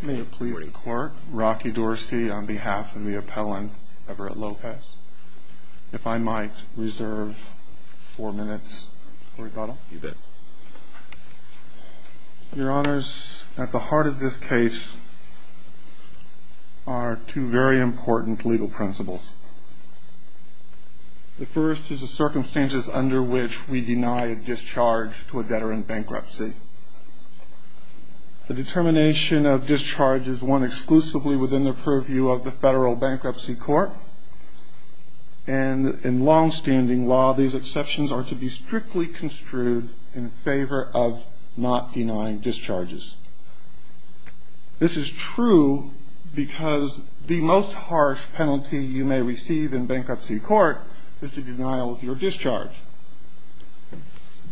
May it please the court, Rocky Dorsey on behalf of the appellant Everett Lopez. If I might reserve four minutes for rebuttal. You bet. Your honors, at the heart of this case are two very important legal principles. The first is the circumstances under which we deny a discharge to a debtor in bankruptcy. The determination of discharge is one exclusively within the purview of the federal bankruptcy court. And in longstanding law, these exceptions are to be strictly construed in favor of not denying discharges. This is true because the most harsh penalty you may receive in bankruptcy court is to deny your discharge.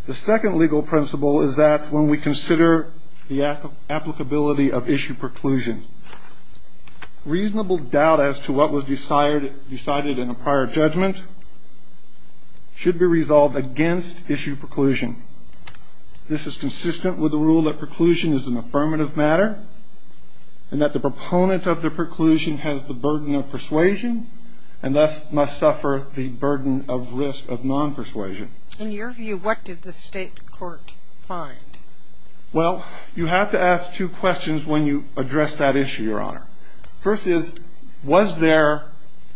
The second legal principle is that when we consider the applicability of issue preclusion, reasonable doubt as to what was decided in a prior judgment should be resolved against issue preclusion. This is consistent with the rule that preclusion is an affirmative matter and that the proponent of the preclusion has the burden of persuasion and thus must suffer the burden of risk of non-persuasion. In your view, what did the state court find? Well, you have to ask two questions when you address that issue, your honor. First is, was there,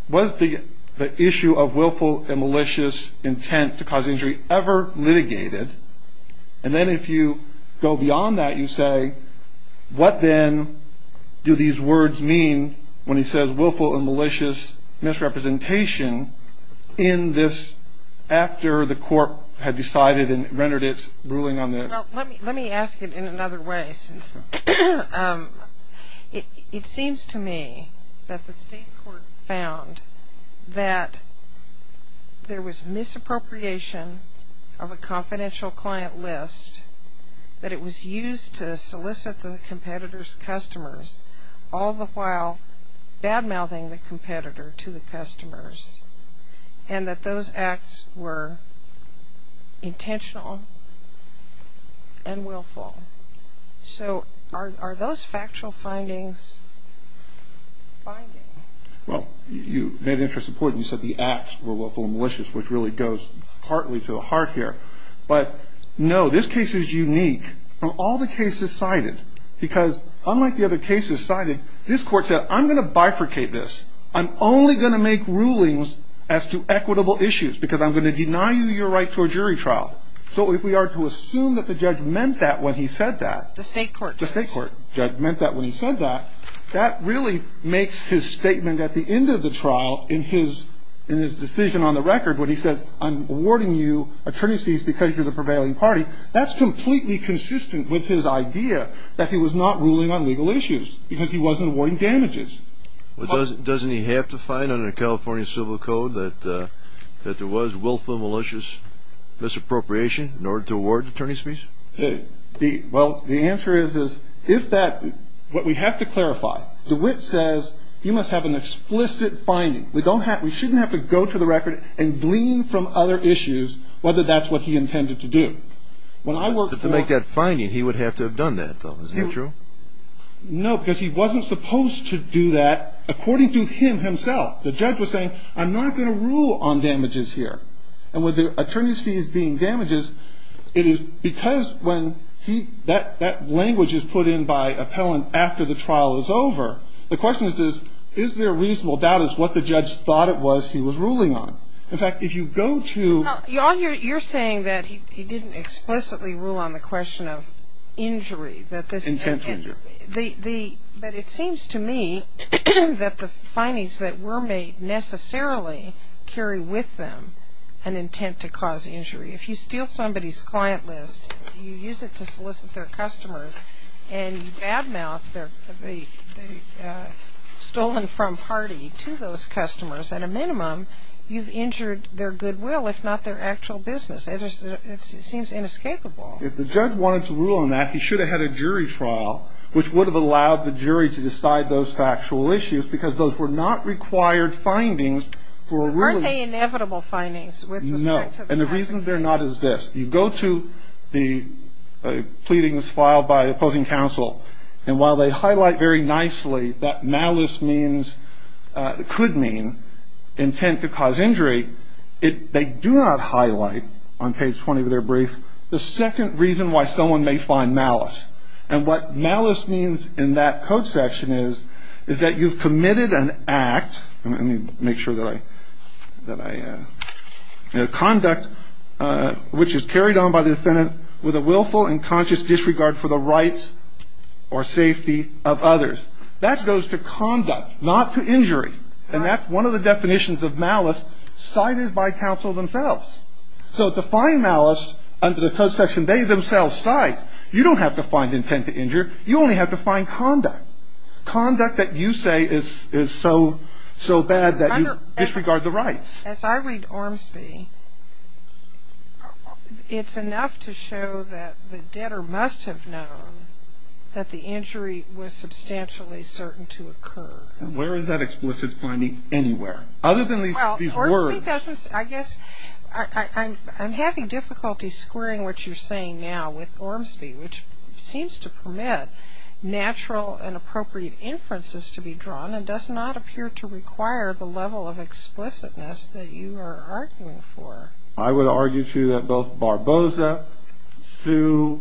was the issue of willful and malicious intent to cause injury ever litigated? And then if you go beyond that, you say, what then do these words mean when he says willful and malicious misrepresentation in this, after the court had decided and rendered its ruling on this? Well, let me ask it in another way. It seems to me that the state court found that there was misappropriation of a confidential client list, that it was used to solicit the competitor's customers, all the while bad-mouthing the competitor to the customers, and that those acts were intentional and willful. So are those factual findings binding? Well, you made an interesting point. You said the acts were willful and malicious, which really goes partly to the heart here. But no, this case is unique from all the cases cited because unlike the other cases cited, this court said, I'm going to bifurcate this. I'm only going to make rulings as to equitable issues because I'm going to deny you your right to a jury trial. So if we are to assume that the judge meant that when he said that, the state court, the state court judge meant that when he said that, that really makes his statement at the end of the trial in his decision on the record when he says, I'm awarding you attorney's fees because you're the prevailing party, that's completely consistent with his idea that he was not ruling on legal issues because he wasn't awarding damages. Well, doesn't he have to find under California civil code that there was willful, malicious damage? Well, the answer is, is if that, what we have to clarify, DeWitt says he must have an explicit finding. We don't have, we shouldn't have to go to the record and glean from other issues, whether that's what he intended to do. When I worked to make that finding, he would have to have done that though. Is that true? No, because he wasn't supposed to do that. According to him himself, the judge was saying, I'm not going to rule on because when he, that language is put in by appellant after the trial is over. The question is, is there a reasonable doubt as to what the judge thought it was he was ruling on? In fact, if you go to... Now, you're saying that he didn't explicitly rule on the question of injury, that this... Intent injury. The, the, but it seems to me that the findings that were made necessarily carry with them an intent to cause injury. If you steal somebody's client list, you use it to solicit their customers, and you badmouth the, the, the stolen from party to those customers, at a minimum, you've injured their goodwill, if not their actual business. It is, it seems inescapable. If the judge wanted to rule on that, he should have had a jury trial, which would have allowed the jury to decide those factual issues, because those were not required findings for a really... No. And the reason they're not is this. You go to the pleadings filed by opposing counsel, and while they highlight very nicely that malice means, could mean, intent to cause injury, it, they do not highlight, on page 20 of their brief, the second reason why someone may find malice. And what malice means in that code section is, is that you've committed an act, let me make sure that I, that I, conduct, which is carried on by the defendant with a willful and conscious disregard for the rights or safety of others. That goes to conduct, not to injury. And that's one of the definitions of malice cited by counsel themselves. So to find malice under the code section they themselves cite, you don't have to find intent to injure, you only have to find conduct. Conduct that you say is, is so, so bad that you disregard the rights. As I read Ormsby, it's enough to show that the debtor must have known that the injury was substantially certain to occur. Where is that explicit finding anywhere? Other than these, these words. Well, Ormsby doesn't, I guess, I, I, I'm, I'm having difficulty squaring what you're saying now with Ormsby, which seems to permit natural and appropriate inferences to be drawn and does not appear to require the level of explicitness that you are arguing for. I would argue, too, that both Barboza, Sue,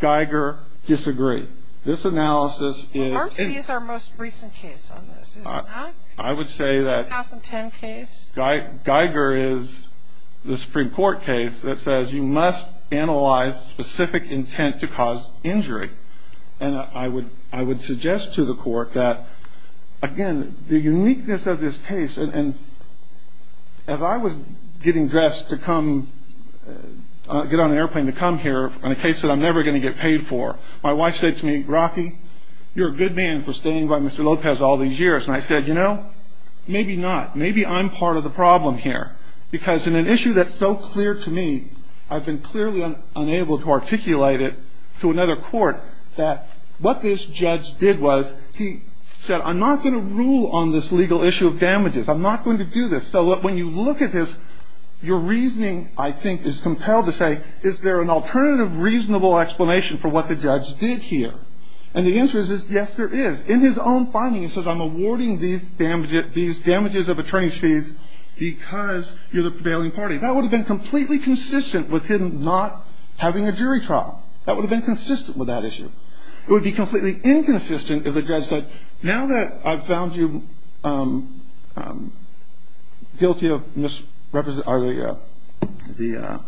Geiger disagree. This analysis is... Well, Ormsby is our most recent case on this, is it not? I would say that... 2010 case? Geiger is the Supreme Court case that says you must analyze specific intent to cause injury. And I would, I would suggest to the court that, again, the uniqueness of this case, and, and, as I was getting dressed to come, get on an airplane to come here on a case that I'm never going to get paid for, my wife said to me, Rocky, you're a good man for staying by Mr. Lopez all these years, and I said, you know, maybe not. Maybe I'm part of the problem here. Because in an issue that's so clear to me, I've been clearly unable to articulate it to another court, that what this judge did was, he said, I'm not going to rule on this legal issue of damages. I'm not going to do this. So when you look at this, your reasoning, I think, is compelled to say, is there an alternative reasonable explanation for what the judge did here? And the answer is, yes, there is. In his own finding, he says, I'm awarding these damages, these damages of attorney's fees because you're the prevailing party. That would have been completely consistent with him not having a jury trial. That would have been consistent with that issue. It would be completely inconsistent if the judge said, now that I've found you guilty of misrepresent, or the, the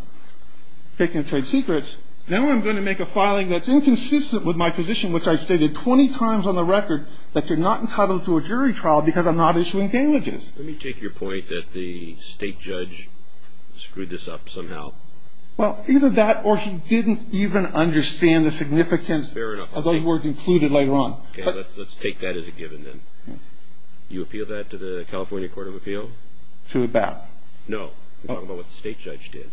faking of trade secrets, now I'm going to make a filing that's inconsistent with my position, which I've stated 20 times on the record, that you're not entitled to a jury trial because I'm not issuing damages. Let me take your point that the state judge screwed this up somehow. Well, either that, or he didn't even understand the significance of those words included later on. Okay, let's take that as a given then. Do you appeal that to the California Court of Appeal? To about? No. I'm talking about what the state judge did.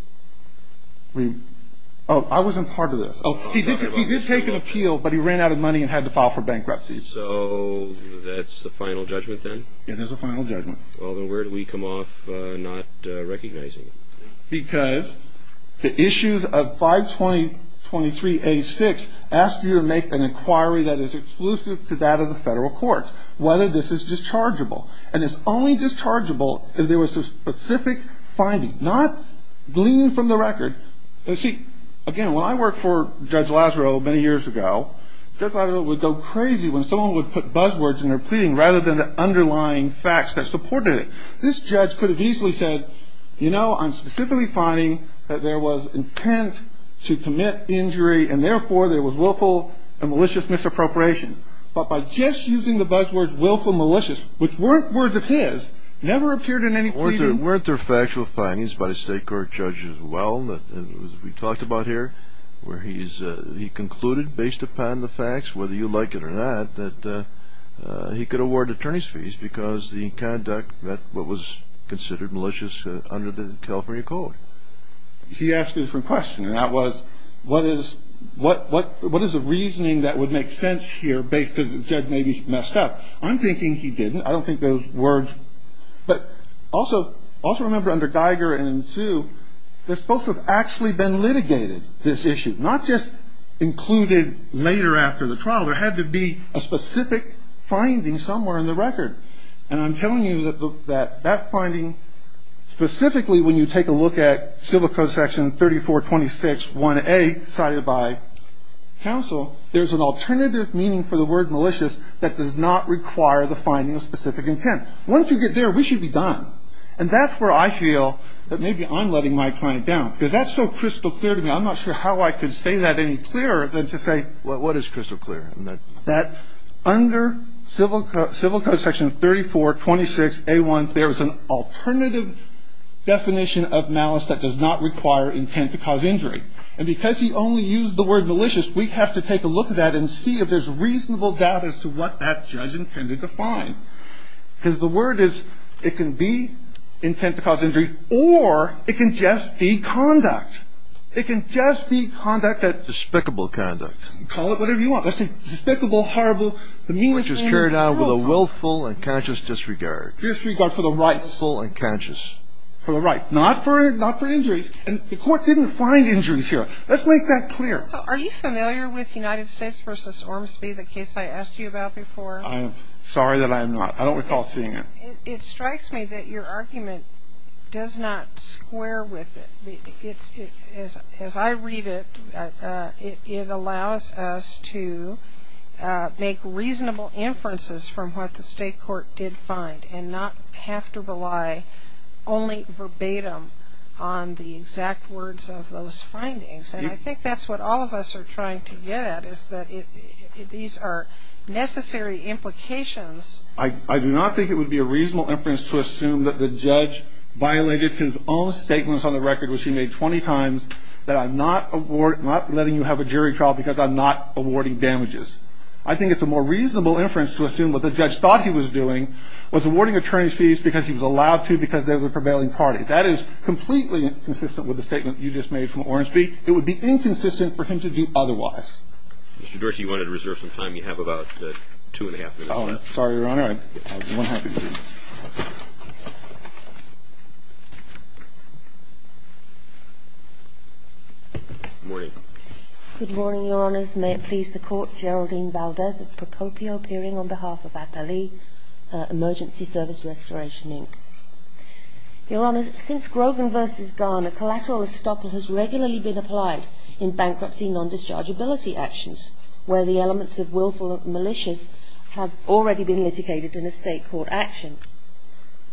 Oh, I wasn't part of this. Oh, he did take an appeal, but he ran out of money and had to file for bankruptcy. So that's the final judgment then? Yeah, that's the final judgment. Well, then where do we come off not recognizing it? Because the issues of 520.23.86 asked you to make an inquiry that is exclusive to that of the federal courts, whether this is dischargeable. And it's only dischargeable if there was a specific finding, not gleaned from the record. See, again, when I worked for Judge Lazaro many years ago, Judge Lazaro would go crazy when someone would put buzzwords in their pleading rather than the underlying facts that supported it. This judge could have easily said, you know, I'm specifically finding that there was intent to commit injury, and therefore there was willful and malicious misappropriation. But by just using the buzzwords willful and malicious, which weren't words of his, never appeared in any pleading. Weren't there factual findings by the state court judge as well, as we talked about here, where he concluded, based upon the facts, whether you like it or not, that he could award attorney's fees because the conduct met what was considered malicious under the California code? He asked a different question, and that was, what is the reasoning that would make sense here, because the judge may be messed up? I'm thinking he didn't. I don't think those are words. But also remember, under Geiger and Sue, they're supposed to have actually been litigated, this issue, not just included later after the trial. There had to be a specific finding somewhere in the record. And I'm telling you that that finding, specifically when you take a look at Civil Code Section 3426-1A, cited by counsel, there's an alternative meaning for the word malicious that does not require intent to cause injury. Once you get there, we should be done. And that's where I feel that maybe I'm letting my client down, because that's so crystal clear to me. I'm not sure how I could say that any clearer than to say, well, what is crystal clear? That under Civil Code Section 3426-A1, there is an alternative definition of malice that does not require intent to cause injury. And because he only used the word malicious, we have to take a look at that and see if there's reasonable doubt as to what that judge intended to find. Because the word is, it can be intent to cause injury, or it can just be conduct. It can just be conduct that's despicable conduct. Call it whatever you want. That's despicable, horrible, the meanest thing in the world. Which is carried out with a willful and conscious disregard. Disregard for the rights. Willful and conscious. For the right. Not for injuries. And the Court didn't find injuries here. Let's make that clear. So are you familiar with United States v. Ormsby, the case I asked you about before? I'm sorry that I'm not. I don't recall seeing it. It strikes me that your argument does not square with it. As I read it, it allows us to make reasonable inferences from what the state court did find and not have to rely only verbatim on the exact words of those findings. And I think that's what all of us are trying to get at, is that these are necessary implications. I do not think it would be a reasonable inference to assume that the judge violated his own statements on the record, which he made 20 times, that I'm not letting you have a jury trial because I'm not awarding damages. I think it's a more reasonable inference to assume what the judge thought he was doing was awarding attorney's fees because he was allowed to because they were the prevailing party. That is completely inconsistent with the statement you just made from Ormsby. It would be inconsistent for him to do otherwise. Mr. Dorsey, you wanted to reserve some time. You have about 2 1⁄2 minutes left. Oh, sorry, Your Honor. I have 1 1⁄2 minutes. Good morning. Good morning, Your Honors. May it please the Court, Geraldine Valdez of Procopio, appearing on behalf of Attali Emergency Service Restoration, Inc. Your Honors, since Grogan v. Garner, collateral estoppel has regularly been applied in bankruptcy non-dischargeability actions, where the elements of willful malicious have already been litigated in a state court action.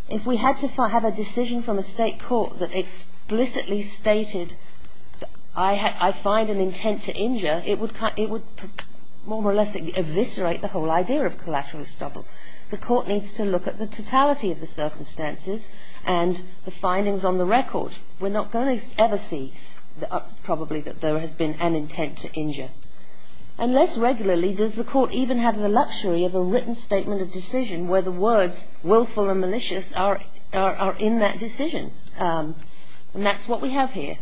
If we had to have a decision from a state court that explicitly stated, I find an intent to injure, it would more or less eviscerate the whole idea of collateral estoppel. The Court needs to look at the totality of the circumstances and the findings on the record. We're not going to ever see, probably, that there has been an intent to injure. And less regularly does the Court even have the luxury of a written statement of decision where the words willful and malicious are in that decision. And that's what we have here.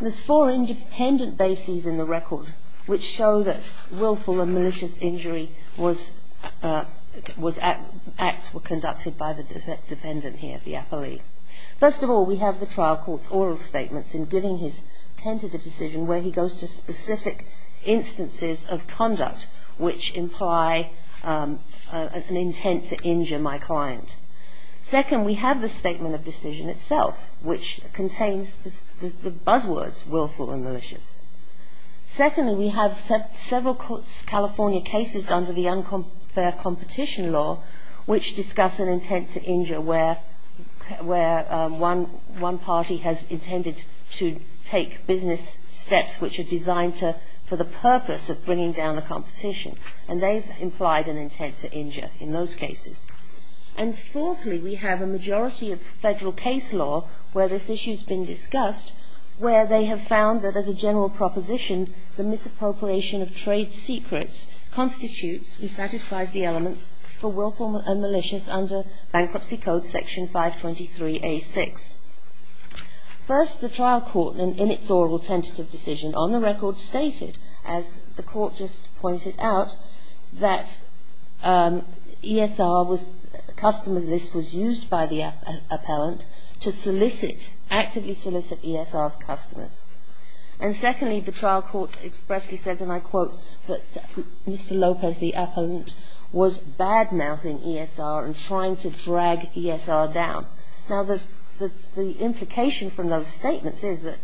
There's four independent bases in the record which show that willful and malicious injury acts were conducted by the defendant here, the appellee. First of all, we have the trial court's oral statements in giving his tentative decision where he goes to specific instances of conduct which imply an intent to injure my client. Second, we have the statement of decision itself which contains the buzzwords willful and malicious. Secondly, we have several California cases under the unfair competition law which discuss an intent to injure where one party has intended to take business steps which are designed for the purpose of bringing down the competition. And they've implied an intent to injure in those cases. And fourthly, we have a majority of federal case law where this issue's been discussed where they have found that as a general proposition, the misappropriation of trade secrets constitutes and satisfies the elements for willful and malicious under Bankruptcy Code Section 523A6. First, the trial court in its oral tentative decision on the record stated, as the court just pointed out, that ESR was, customer's list was used by the appellant to solicit, actively solicit ESR's customers. And secondly, the trial court expressly says, and I quote, that Mr. Lopez, the appellant, was bad-mouthing ESR and trying to drag ESR down. Now, the implication from those statements is that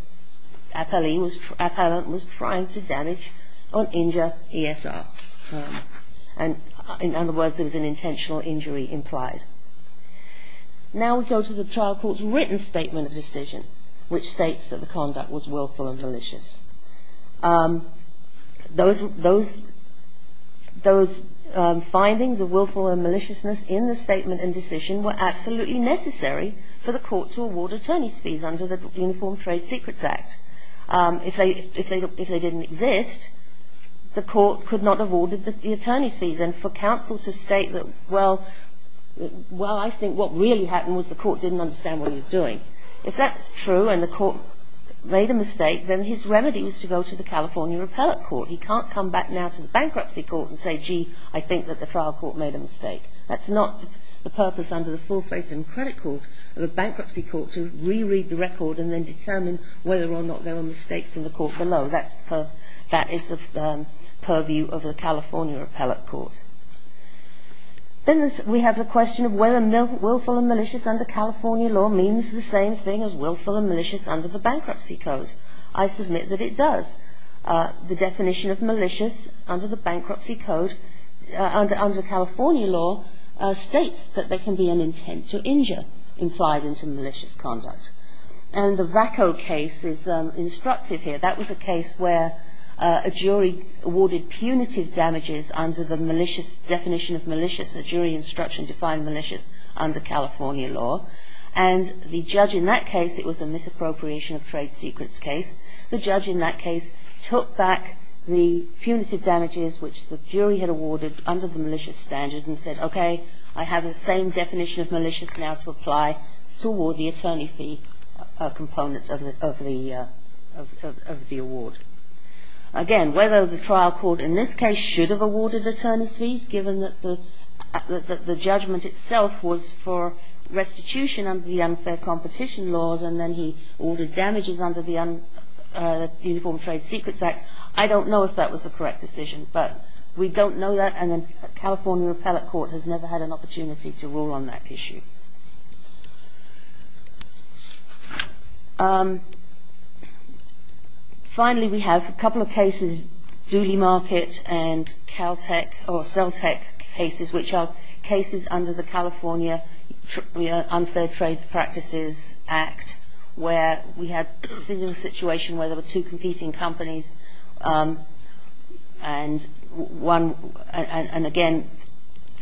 appellant was trying to damage or injure ESR. And in other words, there was an intentional injury implied. Now, we go to the trial court's written statement of decision which states that the conduct was willful and malicious. Those findings of willful and maliciousness in the statement and decision were absolutely necessary for the court to award attorney's fees under the Uniform Trade Secrets Act. If they didn't exist, the court could not have awarded the attorney's fees. And for counsel to state that, well, I think what really happened was the court didn't understand what he was doing. If that's true and the court made a mistake, then his remedy was to go to the California appellate court. He can't come back now to the bankruptcy court and say, gee, I think that the trial court made a mistake. That's not the purpose under the full faith and credit court of a bankruptcy court to reread the record and then determine whether or not there were mistakes in the court below. That is the purview of the California appellate court. Then we have the question of whether willful and malicious under California law means the same thing as willful and malicious under the bankruptcy code. I submit that it does. The definition of malicious under the bankruptcy code under California law states that there can be an intent to injure implied into malicious conduct. And the VACO case is instructive here. That was a case where a jury awarded punitive damages under the malicious definition of malicious. The jury instruction defined malicious under California law. And the judge in that case, it was a misappropriation of trade secrets case, the judge in that case took back the punitive damages which the jury had awarded under the malicious standard and said, okay, I have the same definition of malicious now to apply. It's to award the attorney fee component of the award. Again, whether the trial court in this case should have awarded attorneys fees, given that the judgment itself was for restitution under the unfair competition laws and then he ordered damages under the Uniform Trade Secrets Act, I don't know if that was the correct decision. But we don't know that, and the California Appellate Court has never had an opportunity to rule on that issue. Finally, we have a couple of cases, Dooley Market and Celtec cases, which are cases under the California Unfair Trade Practices Act where we have a similar situation where there were two competing companies and again,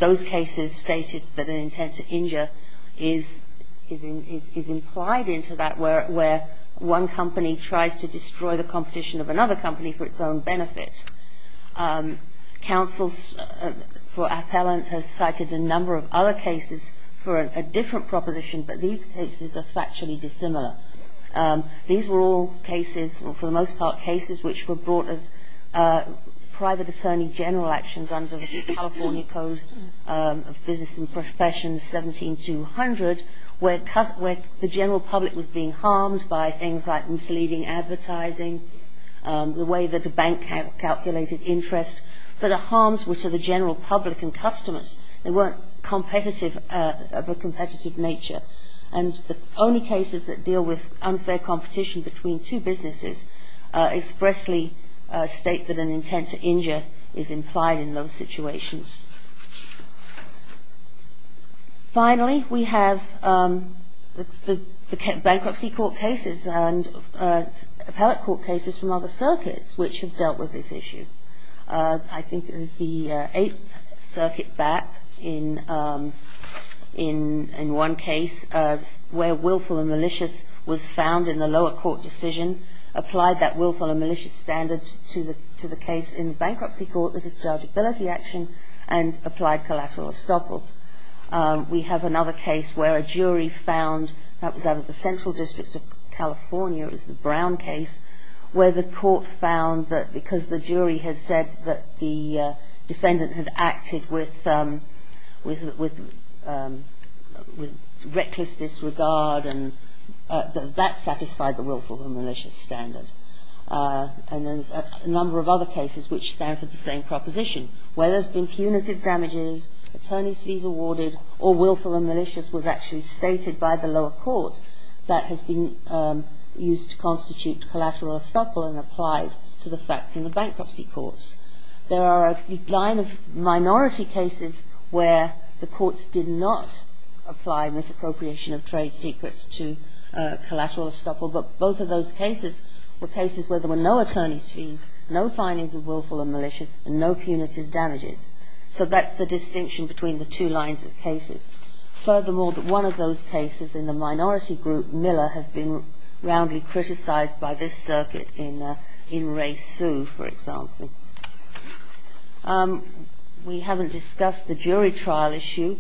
those cases stated that an intent to injure is implied into that where one company tries to destroy the competition of another company for its own benefit. Counsel for appellant has cited a number of other cases for a different proposition, but these cases are factually dissimilar. These were all cases, for the most part, cases which were brought as private attorney general actions under the California Code of Business and Professions, 17200, where the general public was being harmed by things like misleading advertising, the way that a bank calculated interest, but the harms were to the general public and customers. They weren't of a competitive nature, and the only cases that deal with unfair competition between two businesses expressly state that an intent to injure is implied in those situations. Finally, we have the bankruptcy court cases and appellate court cases from other circuits which have dealt with this issue. I think it was the Eighth Circuit back in one case where willful and malicious was found in the lower court decision, applied that willful and malicious standard to the case in bankruptcy court, the dischargeability action, and applied collateral estoppel. We have another case where a jury found, that was out of the Central District of California, it was the Brown case, where the court found that because the jury had said that the defendant had acted with reckless disregard, that that satisfied the willful and malicious standard. And there's a number of other cases which stand for the same proposition, where there's been punitive damages, attorney's fees awarded, or willful and malicious was actually stated by the lower court that has been used to constitute collateral estoppel and applied to the facts in the bankruptcy courts. There are a line of minority cases where the courts did not apply misappropriation of trade secrets to collateral estoppel, but both of those cases were cases where there were no attorney's fees, no findings of willful and malicious, and no punitive damages. So that's the distinction between the two lines of cases. Furthermore, one of those cases in the minority group, Miller, has been roundly criticized by this circuit in Ray Sue, for example. We haven't discussed the jury trial issue.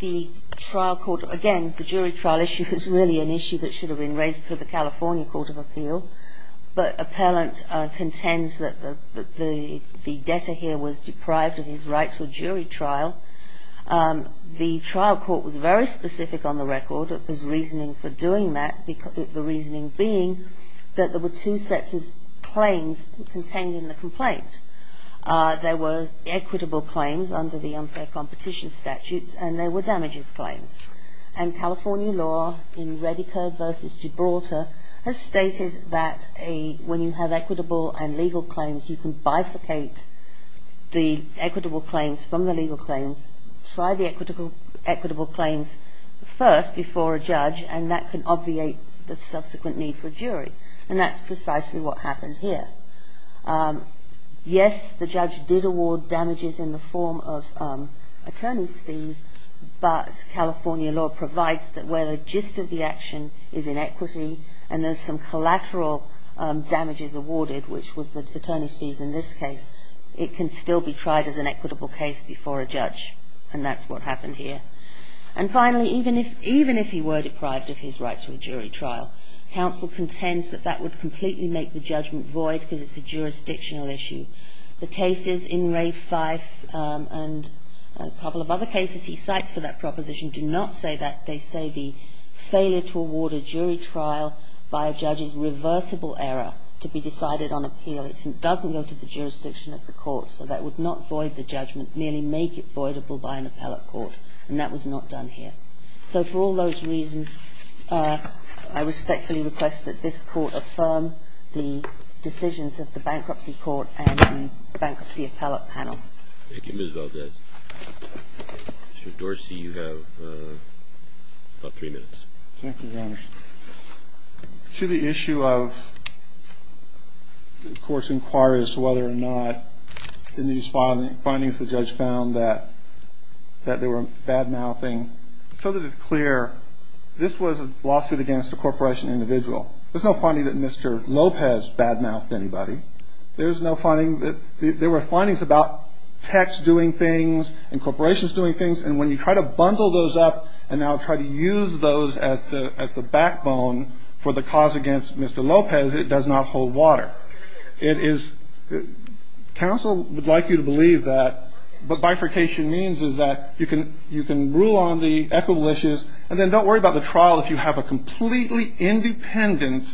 The trial court, again, the jury trial issue is really an issue that should have been raised for the California Court of Appeal, but appellant contends that the debtor here was deprived of his rights for jury trial. The trial court was very specific on the record, it was reasoning for doing that, the reasoning being that there were two sets of claims contained in the complaint. There were equitable claims under the unfair competition statutes and there were damages claims. And California law in Redeker v. Gibraltar has stated that when you have equitable and legal claims you can bifurcate the equitable claims from the legal claims, try the equitable claims first before a judge, and that can obviate the subsequent need for a jury. And that's precisely what happened here. Yes, the judge did award damages in the form of attorney's fees, but California law provides that where the gist of the action is in equity and there's some collateral damages awarded, which was the attorney's fees in this case, it can still be tried as an equitable case before a judge, and that's what happened here. And finally, even if he were deprived of his right to a jury trial, counsel contends that that would completely make the judgment void because it's a jurisdictional issue. The cases in Ray Fife and a couple of other cases he cites for that proposition do not say that, they say the failure to award a jury trial by a judge is reversible error to be decided on appeal, but it doesn't go to the jurisdiction of the court, so that would not void the judgment, merely make it voidable by an appellate court, and that was not done here. So for all those reasons, I respectfully request that this court affirm the decisions of the Bankruptcy Court and Bankruptcy Appellate Panel. Thank you, Ms. Valdez. Mr. Dorsey, you have about three minutes. Thank you, Your Honor. To the issue of the court's inquiries as to whether or not in these findings the judge found that there were bad-mouthing, so that it's clear this was a lawsuit against a corporation individual. There's no finding that Mr. Lopez bad-mouthed anybody. There's no finding that there were findings about techs doing things and corporations doing things, and when you try to bundle those up and now try to use those as the backbone for the cause against Mr. Lopez, it does not hold water. Council would like you to believe that, but bifurcation means is that you can rule on the equitable issues and then don't worry about the trial if you have a completely independent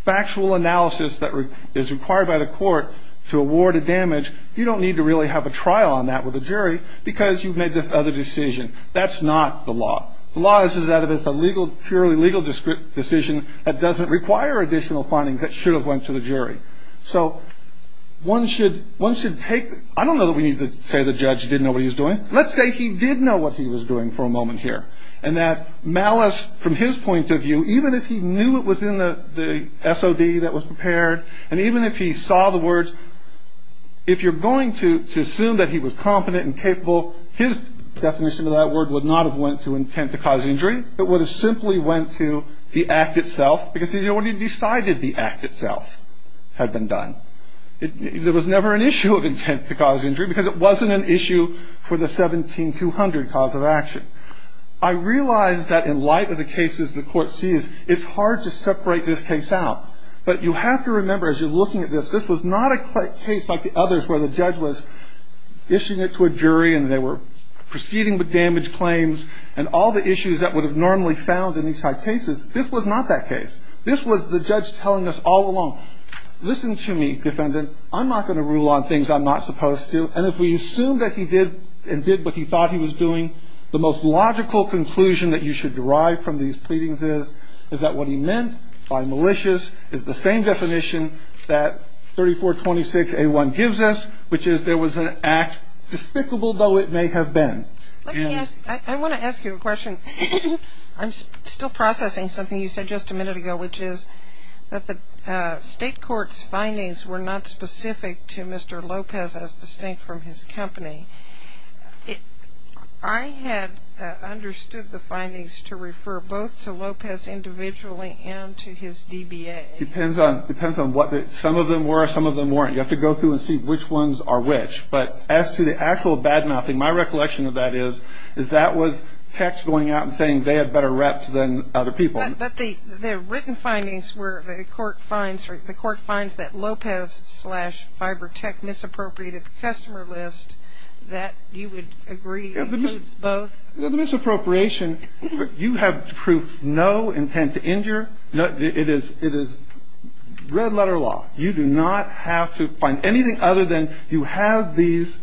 factual analysis that is required by the court to award a damage. You don't need to really have a trial on that with a jury because you've made this other decision. That's not the law. The law is that it's a purely legal decision that doesn't require additional findings that should have went to the jury. So one should take the – I don't know that we need to say the judge didn't know what he was doing. Let's say he did know what he was doing for a moment here, and that malice from his point of view, even if he knew it was in the SOD that was prepared, and even if he saw the words, if you're going to assume that he was competent and capable, his definition of that word would not have went to intent to cause injury. It would have simply went to the act itself because he already decided the act itself had been done. There was never an issue of intent to cause injury because it wasn't an issue for the 17200 cause of action. I realize that in light of the cases the court sees, it's hard to separate this case out, but you have to remember as you're looking at this, this was not a case like the others where the judge was issuing it to a jury and they were proceeding with damage claims and all the issues that would have normally found in these type cases. This was not that case. This was the judge telling us all along, listen to me, defendant. I'm not going to rule on things I'm not supposed to. And if we assume that he did and did what he thought he was doing, the most logical conclusion that you should derive from these pleadings is that what he meant by malicious is the same definition that 3426A1 gives us, which is there was an act, despicable though it may have been. I want to ask you a question. I'm still processing something you said just a minute ago, which is that the state court's findings were not specific to Mr. Lopez as distinct from his company. I had understood the findings to refer both to Lopez individually and to his DBA. It depends on what some of them were, some of them weren't. You have to go through and see which ones are which. But as to the actual badmouthing, my recollection of that is that was text going out and saying they had better reps than other people. But the written findings were the court finds that Lopez slash FiberTech misappropriated the customer list. That, you would agree, includes both? The misappropriation, you have proved no intent to injure. It is red-letter law. You do not have to find anything other than you have these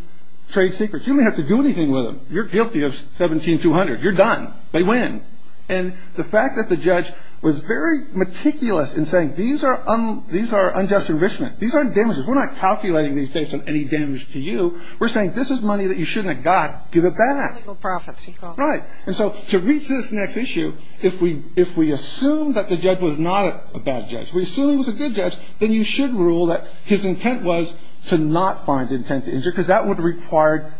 trade secrets. You don't have to do anything with them. You're guilty of 17200. You're done. They win. And the fact that the judge was very meticulous in saying these are unjust enrichment, these aren't damages, we're not calculating these based on any damage to you. We're saying this is money that you shouldn't have got. Give it back. Legal profits. Right. And so to reach this next issue, if we assume that the judge was not a bad judge, we assume he was a good judge, then you should rule that his intent was to not find intent to injure because that would require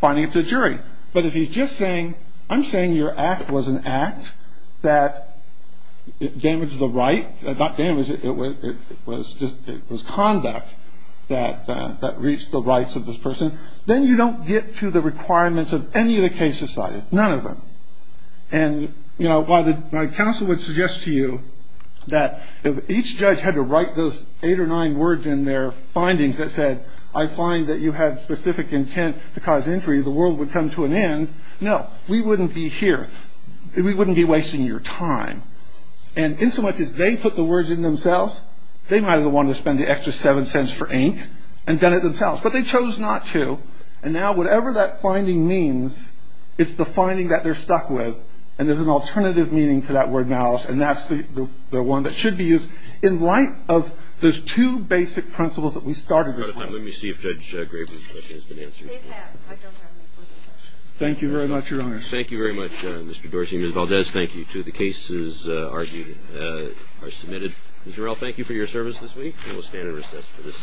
finding it to a jury. But if he's just saying I'm saying your act was an act that damaged the right, not damaged, it was conduct that reached the rights of this person, then you don't get to the requirements of any of the cases cited, none of them. And, you know, my counsel would suggest to you that if each judge had to write those eight or nine words in their findings that said I find that you had specific intent to cause injury, the world would come to an end. No, we wouldn't be here. We wouldn't be wasting your time. And insomuch as they put the words in themselves, they might have been the one to spend the extra seven cents for ink and done it themselves. But they chose not to. And now whatever that finding means, it's the finding that they're stuck with, and there's an alternative meaning to that word malice, and that's the one that should be used in light of those two basic principles that we started this way. Let me see if Judge Graber's question has been answered. It has. I don't have any further questions. Thank you very much, Your Honor. Thank you very much, Mr. Dorsey. Ms. Valdez, thank you, too. The cases argued are submitted. And, Jarell, thank you for your service this week, and we'll stand in recess for this session.